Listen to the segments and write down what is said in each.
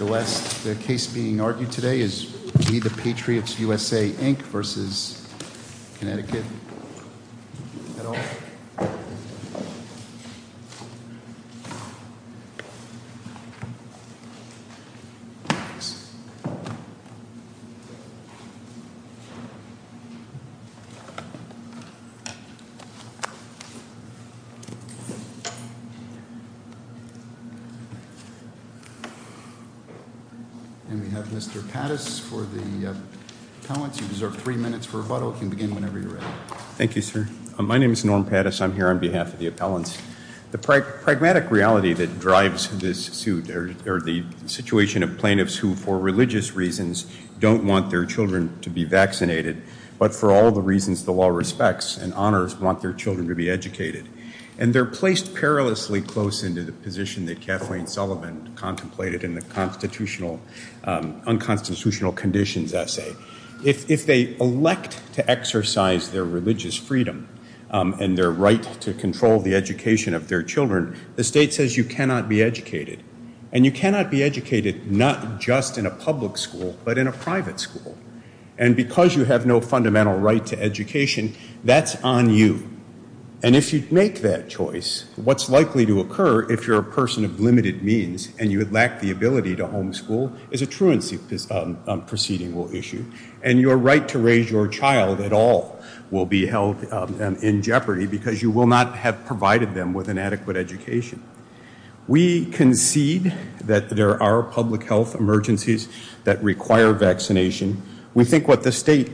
The last case being argued today is We The Patriots USA, Inc. v. Connecticut. And we have Mr. Pattis for the appellants. You deserve three minutes for rebuttal. You can begin whenever you're ready. Thank you, sir. My name is Norm Pattis. I'm here on behalf of the appellants. The pragmatic reality that drives this suit are the situation of plaintiffs who, for religious reasons, don't want their children to be vaccinated, but for all the reasons the law respects and honors, want their children to be educated. And they're placed perilously close into the position that Kathleen Sullivan contemplated in the unconstitutional conditions essay. If they elect to exercise their religious freedom and their right to control the education of their children, the state says you cannot be educated. And you cannot be educated not just in a public school, but in a private school. And because you have no fundamental right to education, that's on you. And if you make that choice, what's likely to occur, if you're a person of limited means and you would lack the ability to homeschool, is a truancy proceeding will issue. And your right to raise your child at all will be held in jeopardy because you will not have provided them with an adequate education. We concede that there are public health emergencies that require vaccination. We think what the state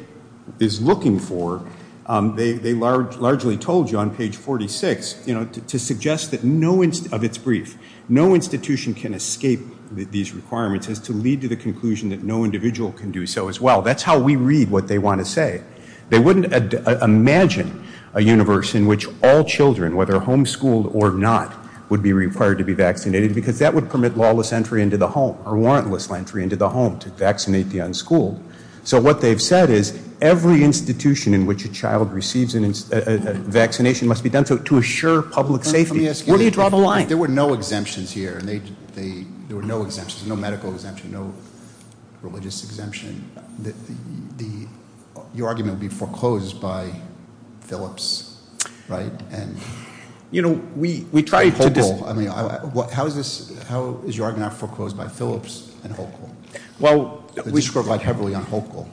is looking for, they largely told you on page 46, you know, to suggest that no, of its brief, no institution can escape these requirements as to lead to the conclusion that no individual can do so as well. That's how we read what they want to say. They wouldn't imagine a universe in which all children, whether homeschooled or not, would be required to be vaccinated because that would permit lawless entry into the home or warrantless entry into the home to vaccinate the unschooled. So what they've said is every institution in which a child receives a vaccination must be done to assure public safety. Where do you draw the line? There were no exemptions here. There were no exemptions, no medical exemption, no religious exemption. Your argument would be foreclosed by Phillips, right? You know, we tried to dis- I mean, how is this, how is your argument foreclosed by Phillips and Hochul? Well, we scored quite heavily on Hochul.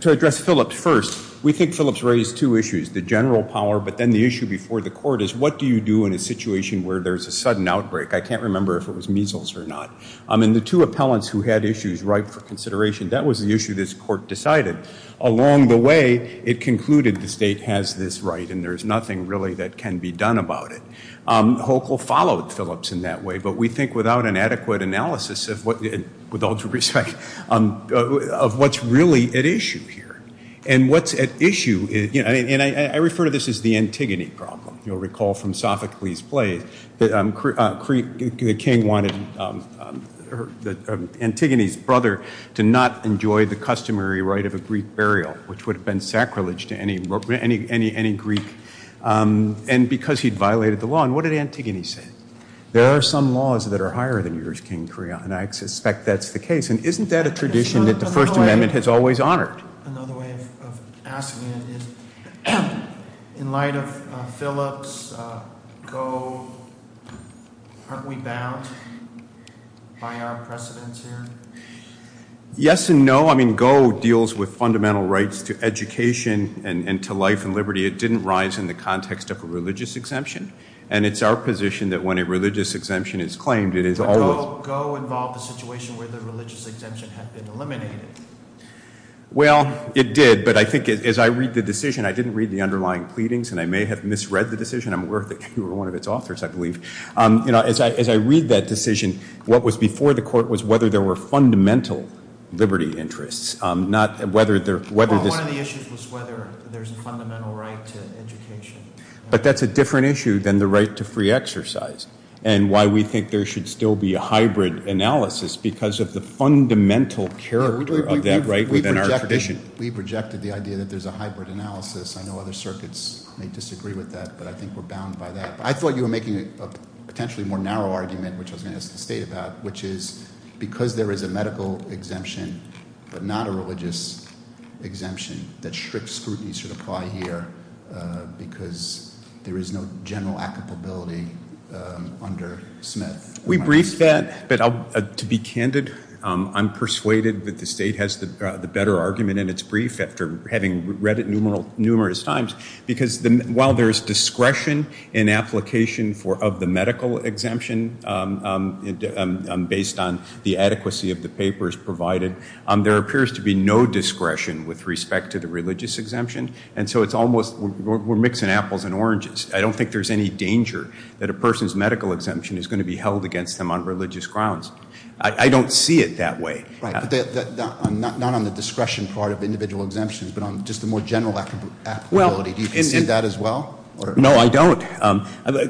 To address Phillips first, we think Phillips raised two issues, the general power, but then the issue before the court is what do you do in a situation where there's a sudden outbreak? I can't remember if it was measles or not. And the two appellants who had issues ripe for consideration, that was the issue this court decided. Along the way, it concluded the state has this right and there's nothing really that can be done about it. Hochul followed Phillips in that way, but we think without an adequate analysis of what, with all due respect, of what's really at issue here. And what's at issue, and I refer to this as the Antigone problem. You'll recall from Sophocles' play that the king wanted Antigone's brother to not enjoy the customary right of a Greek burial, which would have been sacrilege to any Greek, and because he'd violated the law. And what did Antigone say? There are some laws that are higher than yours, King Creon, and I suspect that's the case. And isn't that a tradition that the First Amendment has always honored? Another way of asking it is, in light of Phillips, GO, aren't we bound by our precedents here? Yes and no. I mean, GO deals with fundamental rights to education and to life and liberty. It didn't rise in the context of a religious exemption. And it's our position that when a religious exemption is claimed, it is always- Well, it did, but I think as I read the decision, I didn't read the underlying pleadings, and I may have misread the decision. I'm aware that you were one of its authors, I believe. As I read that decision, what was before the court was whether there were fundamental liberty interests, not whether there- Well, one of the issues was whether there's a fundamental right to education. But that's a different issue than the right to free exercise, and why we think there should still be a hybrid analysis because of the fundamental character of that right within our tradition. We projected the idea that there's a hybrid analysis. I know other circuits may disagree with that, but I think we're bound by that. But I thought you were making a potentially more narrow argument, which I was going to ask the state about, which is because there is a medical exemption but not a religious exemption, that strict scrutiny should apply here because there is no general applicability under Smith. We briefed that, but to be candid, I'm persuaded that the state has the better argument in its brief after having read it numerous times because while there is discretion in application of the medical exemption based on the adequacy of the papers provided, there appears to be no discretion with respect to the religious exemption. And so it's almost we're mixing apples and oranges. I don't think there's any danger that a person's medical exemption is going to be held against them on religious grounds. I don't see it that way. Right. Not on the discretion part of individual exemptions, but on just the more general applicability. Do you see that as well? No, I don't.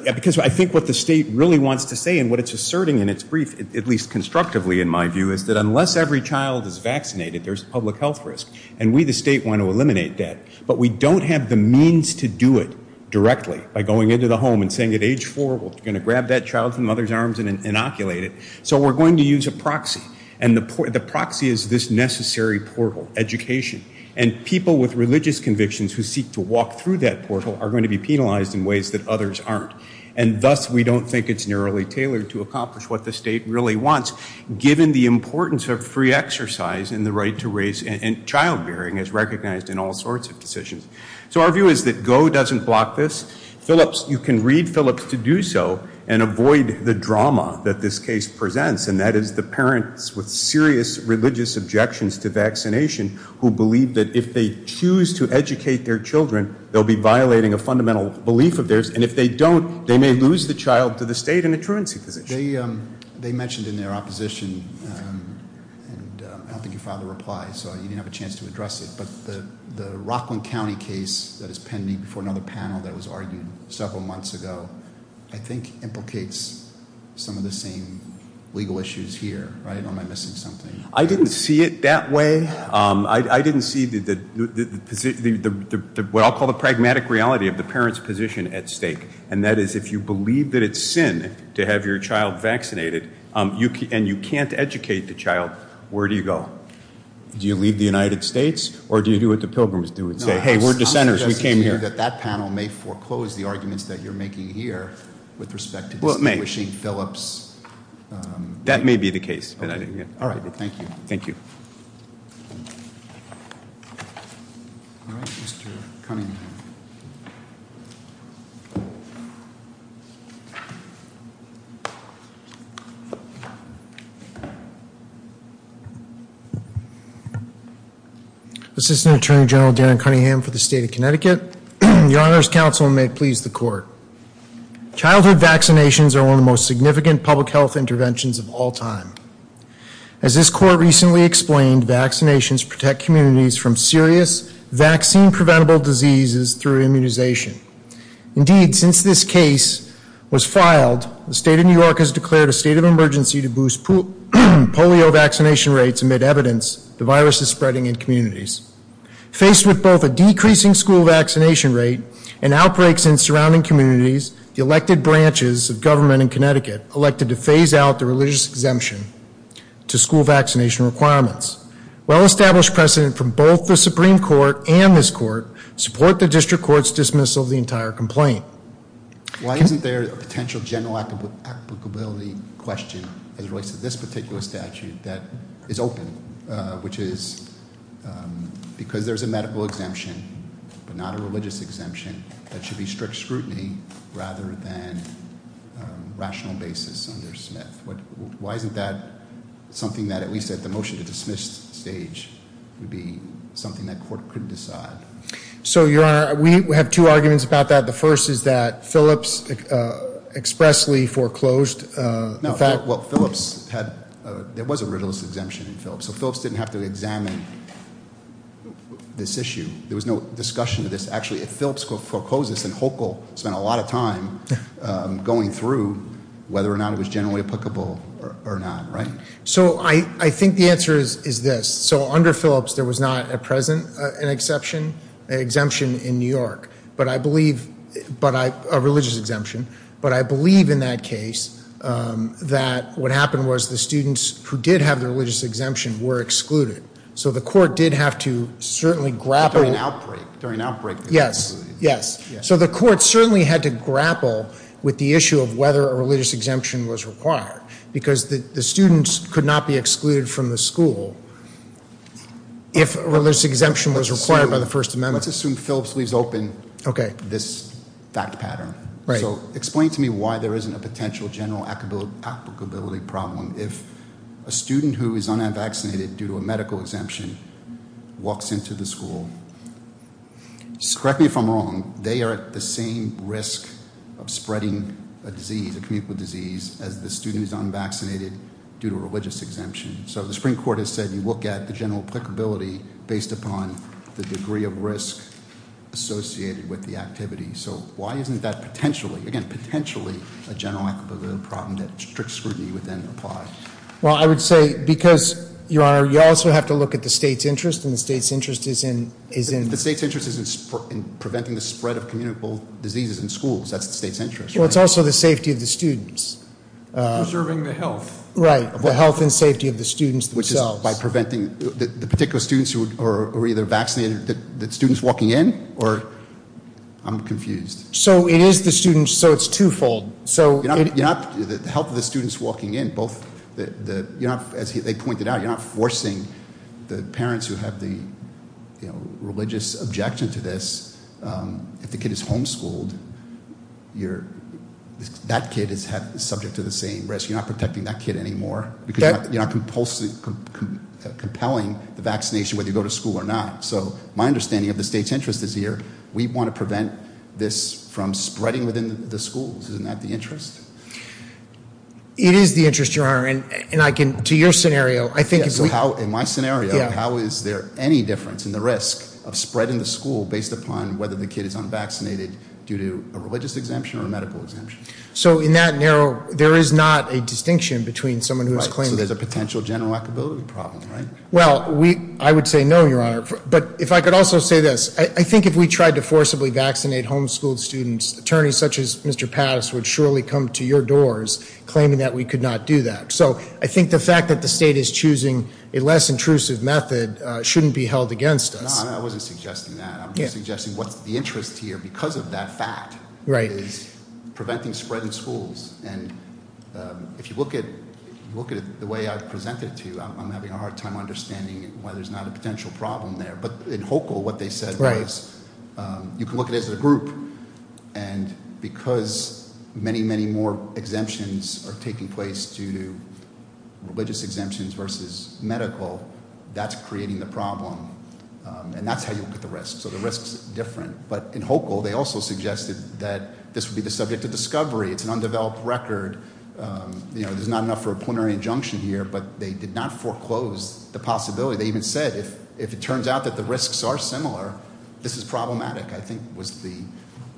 Because I think what the state really wants to say and what it's asserting in its brief, at least constructively in my view, is that unless every child is vaccinated, there's a public health risk. And we, the state, want to eliminate that. But we don't have the means to do it directly by going into the home and saying at age four, we're going to grab that child from the mother's arms and inoculate it. So we're going to use a proxy. And the proxy is this necessary portal, education. And people with religious convictions who seek to walk through that portal are going to be penalized in ways that others aren't. And thus, we don't think it's narrowly tailored to accomplish what the state really wants, given the importance of free exercise and the right to raise and childbearing is recognized in all sorts of decisions. So our view is that GO doesn't block this. Philips, you can read Philips to do so and avoid the drama that this case presents, and that is the parents with serious religious objections to vaccination who believe that if they choose to educate their children, they'll be violating a fundamental belief of theirs. And if they don't, they may lose the child to the state in a truancy position. They mentioned in their opposition, and I don't think you filed a reply, so you didn't have a chance to address it, but the Rockland County case that is pending before another panel that was argued several months ago, I think implicates some of the same legal issues here, right? Or am I missing something? I didn't see it that way. I didn't see what I'll call the pragmatic reality of the parent's position at stake, and that is if you believe that it's sin to have your child vaccinated and you can't educate the child, where do you go? Do you leave the United States, or do you do what the Pilgrims do and say, hey, we're dissenters, we came here? I'm suggesting here that that panel may foreclose the arguments that you're making here with respect to distinguishing Philips. That may be the case. All right, thank you. Thank you. All right, Mr. Cunningham. Assistant Attorney General Dan Cunningham for the state of Connecticut. Your Honor's counsel may please the court. Childhood vaccinations are one of the most significant public health interventions of all time. As this court recently explained, vaccinations protect communities from serious vaccine-preventable diseases through immunization. Indeed, since this case was filed, the state of New York has declared a state of emergency to boost polio vaccination rates amid evidence the virus is spreading in communities. Faced with both a decreasing school vaccination rate and outbreaks in surrounding communities, the elected branches of government in Connecticut elected to phase out the religious exemption to school vaccination requirements. Well-established precedent from both the Supreme Court and this court support the district court's dismissal of the entire complaint. Why isn't there a potential general applicability question as it relates to this particular statute that is open, which is because there's a medical exemption, but not a religious exemption, that should be strict scrutiny rather than rational basis under Smith? Why isn't that something that at least at the motion to dismiss stage would be something that court could decide? So, Your Honor, we have two arguments about that. The first is that Phillips expressly foreclosed. There was a religious exemption in Phillips, so Phillips didn't have to examine this issue. There was no discussion of this. Actually, Phillips foreclosed this, and Hochul spent a lot of time going through whether or not it was generally applicable or not, right? So I think the answer is this. So under Phillips, there was not at present an exemption in New York, a religious exemption. But I believe in that case that what happened was the students who did have the religious exemption were excluded. So the court did have to certainly grapple. During an outbreak. Yes, yes. So the court certainly had to grapple with the issue of whether a religious exemption was required, because the students could not be excluded from the school if a religious exemption was required by the First Amendment. Let's assume Phillips leaves open this fact pattern. So explain to me why there isn't a potential general applicability problem if a student who is unvaccinated due to a medical exemption walks into the school. Correct me if I'm wrong, they are at the same risk of spreading a disease, a communicable disease, as the student who's unvaccinated due to a religious exemption. So the Supreme Court has said you look at the general applicability based upon the degree of risk associated with the activity. So why isn't that potentially, again, potentially a general applicability problem that strict scrutiny would then apply? Well, I would say because, Your Honor, you also have to look at the state's interest, and the state's interest is in- The state's interest is in preventing the spread of communicable diseases in schools. That's the state's interest. Well, it's also the safety of the students. Preserving the health. Right, the health and safety of the students themselves. By preventing the particular students who are either vaccinated, the students walking in, or, I'm confused. So it is the students, so it's twofold. You're not, the health of the students walking in, as they pointed out, you're not forcing the parents who have the religious objection to this. If the kid is homeschooled, that kid is subject to the same risk. You're not protecting that kid anymore because you're not compelling the vaccination whether you go to school or not. So my understanding of the state's interest is here, we want to prevent this from spreading within the schools. Isn't that the interest? It is the interest, Your Honor, and I can, to your scenario, I think- So how, in my scenario, how is there any difference in the risk of spreading the school based upon whether the kid is unvaccinated due to a religious exemption or a medical exemption? So in that narrow, there is not a distinction between someone who is claiming- Right, so there's a potential general equability problem, right? Well, I would say no, Your Honor. But if I could also say this, I think if we tried to forcibly vaccinate homeschooled students, attorneys such as Mr. Patas would surely come to your doors claiming that we could not do that. So I think the fact that the state is choosing a less intrusive method shouldn't be held against us. No, I wasn't suggesting that. I'm just suggesting what's the interest here because of that fact is preventing spread in schools. And if you look at it the way I've presented it to you, I'm having a hard time understanding why there's not a potential problem there. But in HOCAL, what they said was, you can look at it as a group, and because many, many more exemptions are taking place due to religious exemptions versus medical, that's creating the problem. And that's how you look at the risks. So the risks are different. But in HOCAL, they also suggested that this would be the subject of discovery. It's an undeveloped record, there's not enough for a plenary injunction here, but they did not foreclose the possibility. They even said, if it turns out that the risks are similar, this is problematic, I think was the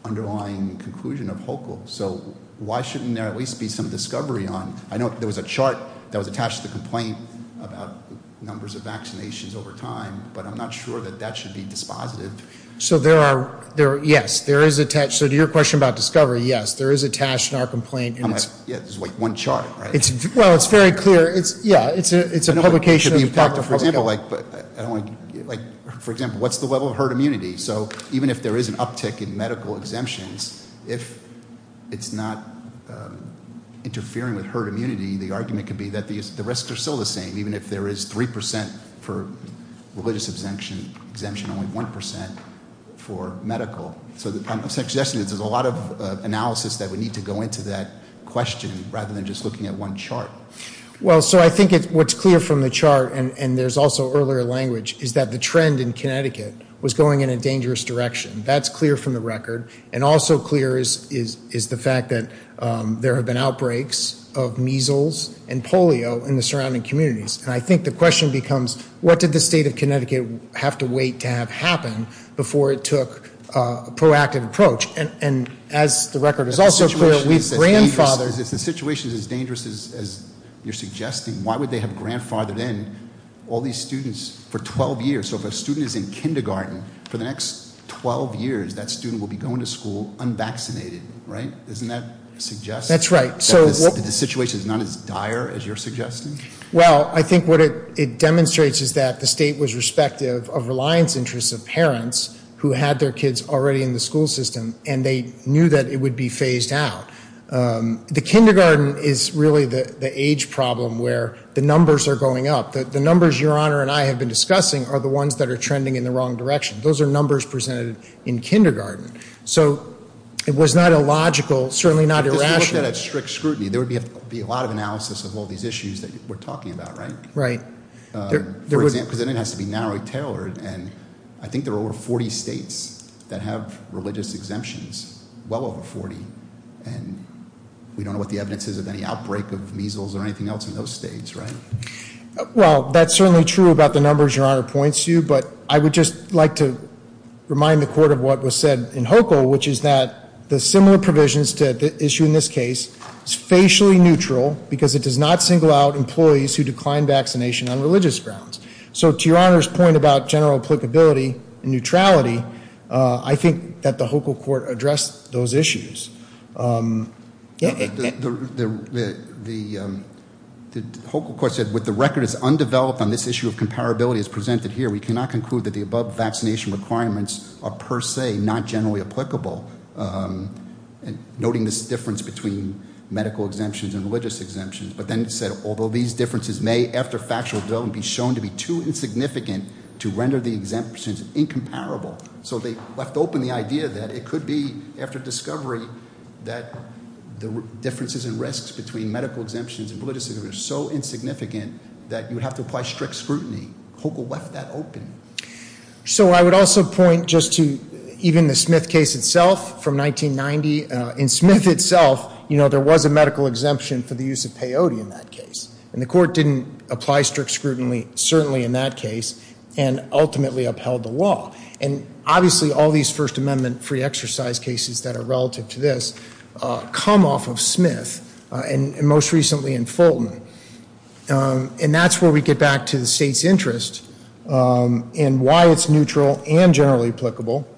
underlying conclusion of HOCAL. So why shouldn't there at least be some discovery on? I know there was a chart that was attached to the complaint about numbers of vaccinations over time, but I'm not sure that that should be dispositive. So there are, yes, there is a test. So to your question about discovery, yes, there is a test in our complaint and it's- Yeah, it's like one chart, right? Well, it's very clear, yeah, it's a publication of HOCAL. For example, what's the level of herd immunity? So even if there is an uptick in medical exemptions, if it's not interfering with herd immunity, the argument could be that the risks are still the same, even if there is 3% for religious exemption, exemption only 1% for medical. So I'm suggesting that there's a lot of analysis that would need to go into that question rather than just looking at one chart. Well, so I think what's clear from the chart, and there's also earlier language, is that the trend in Connecticut was going in a dangerous direction. That's clear from the record. And also clear is the fact that there have been outbreaks of measles and polio in the surrounding communities. And I think the question becomes, what did the state of Connecticut have to wait to have happen before it took a proactive approach? And as the record is also clear, we've grandfathered- Because if the situation is as dangerous as you're suggesting, why would they have grandfathered in all these students for 12 years? So if a student is in kindergarten, for the next 12 years, that student will be going to school unvaccinated, right? Isn't that suggestive? That's right. So- The situation is not as dire as you're suggesting? Well, I think what it demonstrates is that the state was respective of reliance interests of parents who had their kids already in the school system, and they knew that it would be phased out. The kindergarten is really the age problem where the numbers are going up. The numbers Your Honor and I have been discussing are the ones that are trending in the wrong direction. Those are numbers presented in kindergarten. So it was not a logical, certainly not irrational- If you looked at it at strict scrutiny, there would be a lot of analysis of all these issues that we're talking about, right? Right. For example, because it has to be narrowly tailored, and I think there are over 40 states that have religious exemptions. Well over 40, and we don't know what the evidence is of any outbreak of measles or anything else in those states, right? Well, that's certainly true about the numbers Your Honor points to, but I would just like to remind the court of what was said in HOCAL, which is that the similar provisions to the issue in this case is facially neutral, because it does not single out employees who decline vaccination on religious grounds. So to Your Honor's point about general applicability and neutrality, I think that the HOCAL court addressed those issues. The HOCAL court said, with the record as undeveloped on this issue of comparability as presented here, we cannot conclude that the above vaccination requirements are per se not generally applicable. Noting this difference between medical exemptions and religious exemptions. But then it said, although these differences may, after factual development, be shown to be too insignificant to render the exemptions incomparable. So they left open the idea that it could be, after discovery, that the differences and risks between medical exemptions and religious exemptions are so insignificant that you would have to apply strict scrutiny. HOCAL left that open. So I would also point just to even the Smith case itself from 1990. In Smith itself, there was a medical exemption for the use of peyote in that case. And the court didn't apply strict scrutiny, certainly in that case, and ultimately upheld the law. And obviously, all these First Amendment free exercise cases that are relative to this come off of Smith, and most recently in Fulton. And that's where we get back to the state's interest in why it's neutral and not generally applicable,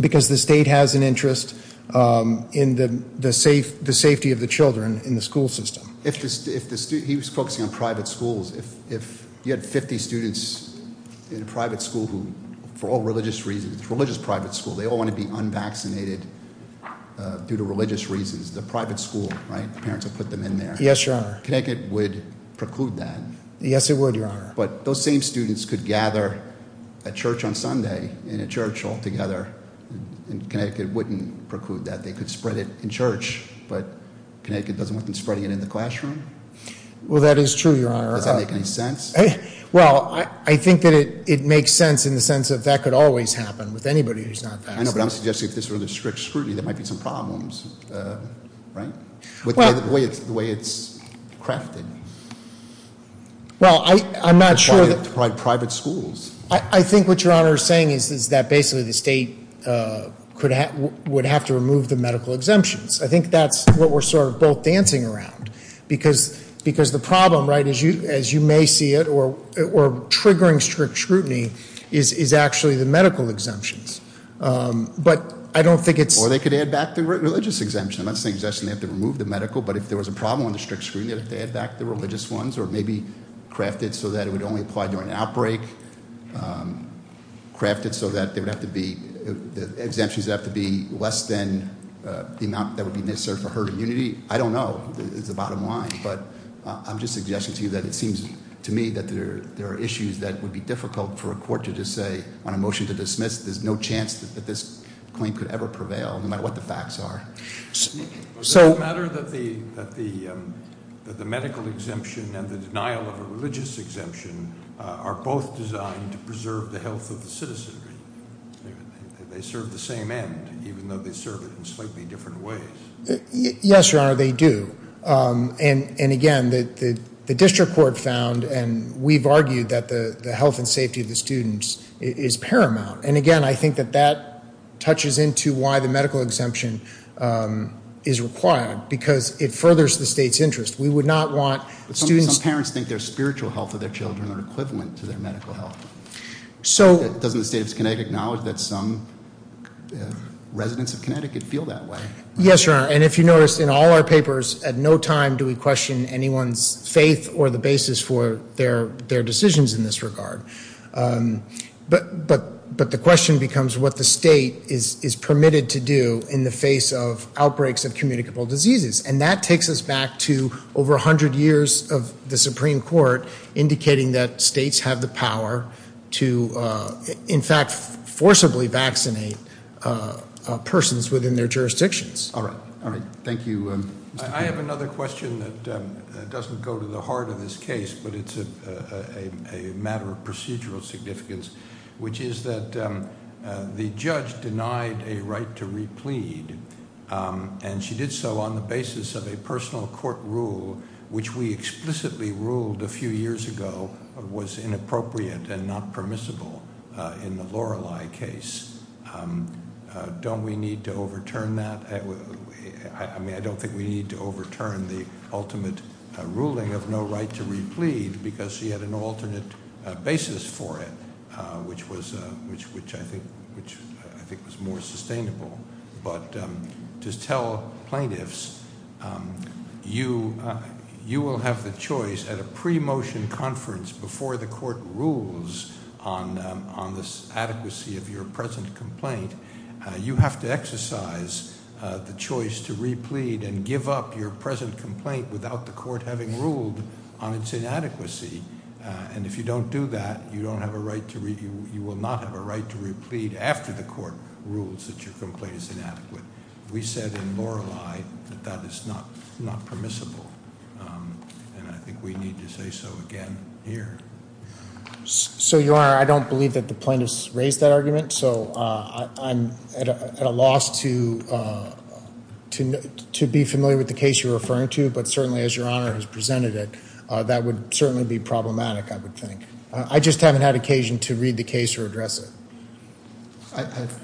because the state has an interest in the safety of the children in the school system. If the, he was focusing on private schools. If you had 50 students in a private school who, for all religious reasons, it's a religious private school. They all want to be unvaccinated due to religious reasons. The private school, right, the parents would put them in there. Yes, your honor. Connecticut would preclude that. Yes, it would, your honor. But those same students could gather a church on Sunday in a church all together, and Connecticut wouldn't preclude that. They could spread it in church, but Connecticut doesn't want them spreading it in the classroom? Well, that is true, your honor. Does that make any sense? Well, I think that it makes sense in the sense that that could always happen with anybody who's not vaccinated. I know, but I'm suggesting if this were the strict scrutiny, there might be some problems, right? With the way it's crafted. Well, I'm not sure that- It's probably private schools. I think what your honor is saying is that basically the state would have to remove the medical exemptions. I think that's what we're sort of both dancing around. Because the problem, right, as you may see it, or triggering strict scrutiny is actually the medical exemptions. But I don't think it's- Or they could add back the religious exemption. I'm not suggesting they have to remove the medical, but if there was a problem with the strict scrutiny, they had to add back the religious ones. Or maybe craft it so that it would only apply during an outbreak. Craft it so that exemptions have to be less than the amount that would be necessary for herd immunity. I don't know, is the bottom line. But I'm just suggesting to you that it seems to me that there are issues that would be difficult for a court to just say on a motion to dismiss, there's no chance that this claim could ever prevail, no matter what the facts are. So- Does it matter that the medical exemption and the denial of a religious exemption are both designed to preserve the health of the citizenry? They serve the same end, even though they serve it in slightly different ways. Yes, your honor, they do. And again, the district court found, and we've argued that the health and safety of the students is paramount. And again, I think that that touches into why the medical exemption is required, because it furthers the state's interest. We would not want students- But some parents think their spiritual health of their children are equivalent to their medical health. So- Doesn't the state of Connecticut acknowledge that some residents of Connecticut feel that way? Yes, your honor, and if you notice, in all our papers, at no time do we question anyone's faith or the basis for their decisions in this regard. But the question becomes what the state is permitted to do in the face of outbreaks of communicable diseases. And that takes us back to over 100 years of the Supreme Court indicating that states have the power to, in fact, forcibly vaccinate persons within their jurisdictions. All right, all right. Thank you. I have another question that doesn't go to the heart of this case, but it's a matter of procedural significance, which is that the judge denied a right to replead, and she did so on the basis of a personal court rule which we explicitly ruled a few years ago was inappropriate and not permissible in the Lorelei case. Don't we need to overturn that? I mean, I don't think we need to overturn the ultimate ruling of no right to replead because she had an alternate basis for it. Which I think was more sustainable. But just tell plaintiffs, you will have the choice at a pre-motion conference before the court rules on this adequacy of your present complaint. You have to exercise the choice to replead and give up your present complaint without the court having ruled on its inadequacy. And if you don't do that, you will not have a right to replead after the court rules that your complaint is inadequate. We said in Lorelei that that is not permissible, and I think we need to say so again here. So your honor, I don't believe that the plaintiff's raised that argument. So I'm at a loss to be familiar with the case you're referring to. But certainly as your honor has presented it, that would certainly be problematic, I would think. I just haven't had occasion to read the case or address it.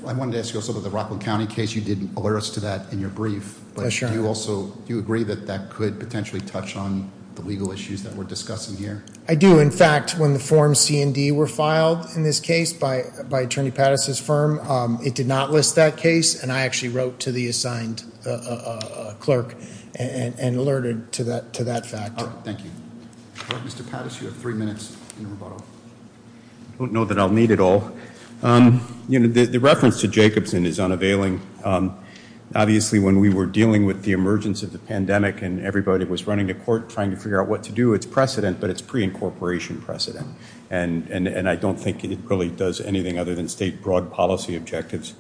I wanted to ask you also about the Rockland County case. You didn't alert us to that in your brief. But do you agree that that could potentially touch on the legal issues that we're discussing here? I do. In fact, when the form C and D were filed in this case by Attorney Pattis' firm, it did not list that case, and I actually wrote to the assigned clerk and alerted to that fact. Thank you. Mr. Pattis, you have three minutes in the rebuttal. I don't know that I'll need it all. The reference to Jacobson is unavailing. Obviously, when we were dealing with the emergence of the pandemic, and everybody was running to court trying to figure out what to do, it's precedent, but it's pre-incorporation precedent. And I don't think it really does anything other than state broad policy objectives.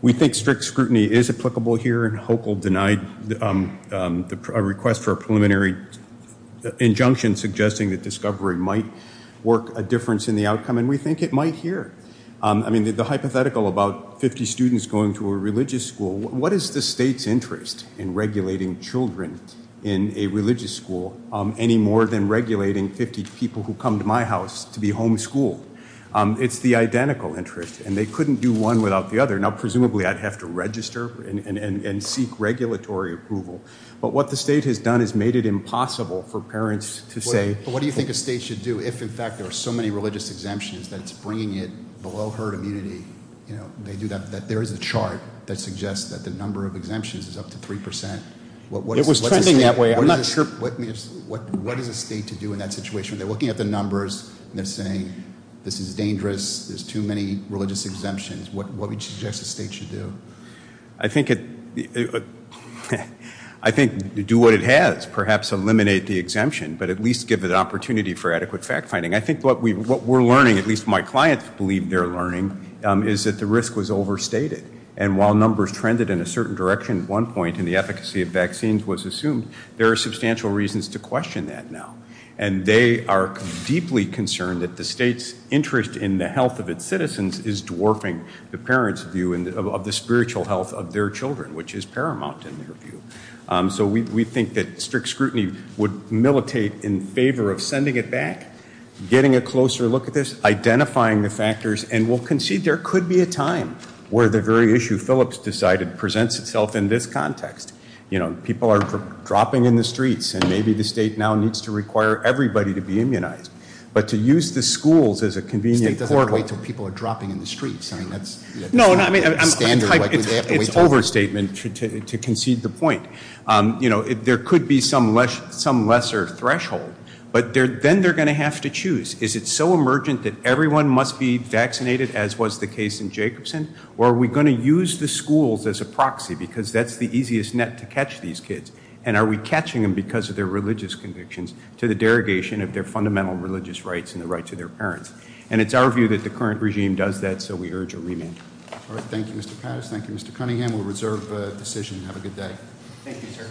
We think strict scrutiny is applicable here, and Hochul denied a request for a preliminary injunction suggesting that discovery might work a difference in the outcome, and we think it might here. I mean, the hypothetical about 50 students going to a religious school, what is the state's interest in regulating children in a religious school any more than regulating 50 people who come to my house to be homeschooled? It's the identical interest, and they couldn't do one without the other. Now, presumably, I'd have to register and seek regulatory approval, but what the state has done is made it impossible for parents to say- But what do you think a state should do if, in fact, there are so many religious exemptions that it's bringing it below herd immunity? They do that, that there is a chart that suggests that the number of exemptions is up to 3%. It was trending that way, I'm not sure- What is a state to do in that situation? They're looking at the numbers, and they're saying, this is dangerous, there's too many religious exemptions. What would you suggest the state should do? I think do what it has, perhaps eliminate the exemption, but at least give it an opportunity for adequate fact-finding. I think what we're learning, at least my clients believe they're learning, is that the risk was overstated. And while numbers trended in a certain direction at one point, and the efficacy of vaccines was assumed, there are substantial reasons to question that now. And they are deeply concerned that the state's interest in the health of its citizens is dwarfing the parents' view of the spiritual health of their children, which is paramount in their view. So we think that strict scrutiny would militate in favor of sending it back, getting a closer look at this, identifying the factors, and we'll concede there could be a time where the very issue Phillips decided presents itself in this context. People are dropping in the streets, and maybe the state now needs to require everybody to be immunized. But to use the schools as a convenient- The state doesn't have to wait until people are dropping in the streets. No, I mean, it's overstatement to concede the point. There could be some lesser threshold, but then they're going to have to choose. Is it so emergent that everyone must be vaccinated, as was the case in Jacobson? Or are we going to use the schools as a proxy, because that's the easiest net to catch these kids? And are we catching them because of their religious convictions to the derogation of their fundamental religious rights and the rights of their parents? And it's our view that the current regime does that, so we urge a remand. All right, thank you, Mr. Patterson. Thank you, Mr. Cunningham. We'll reserve the decision. Thank you, sir.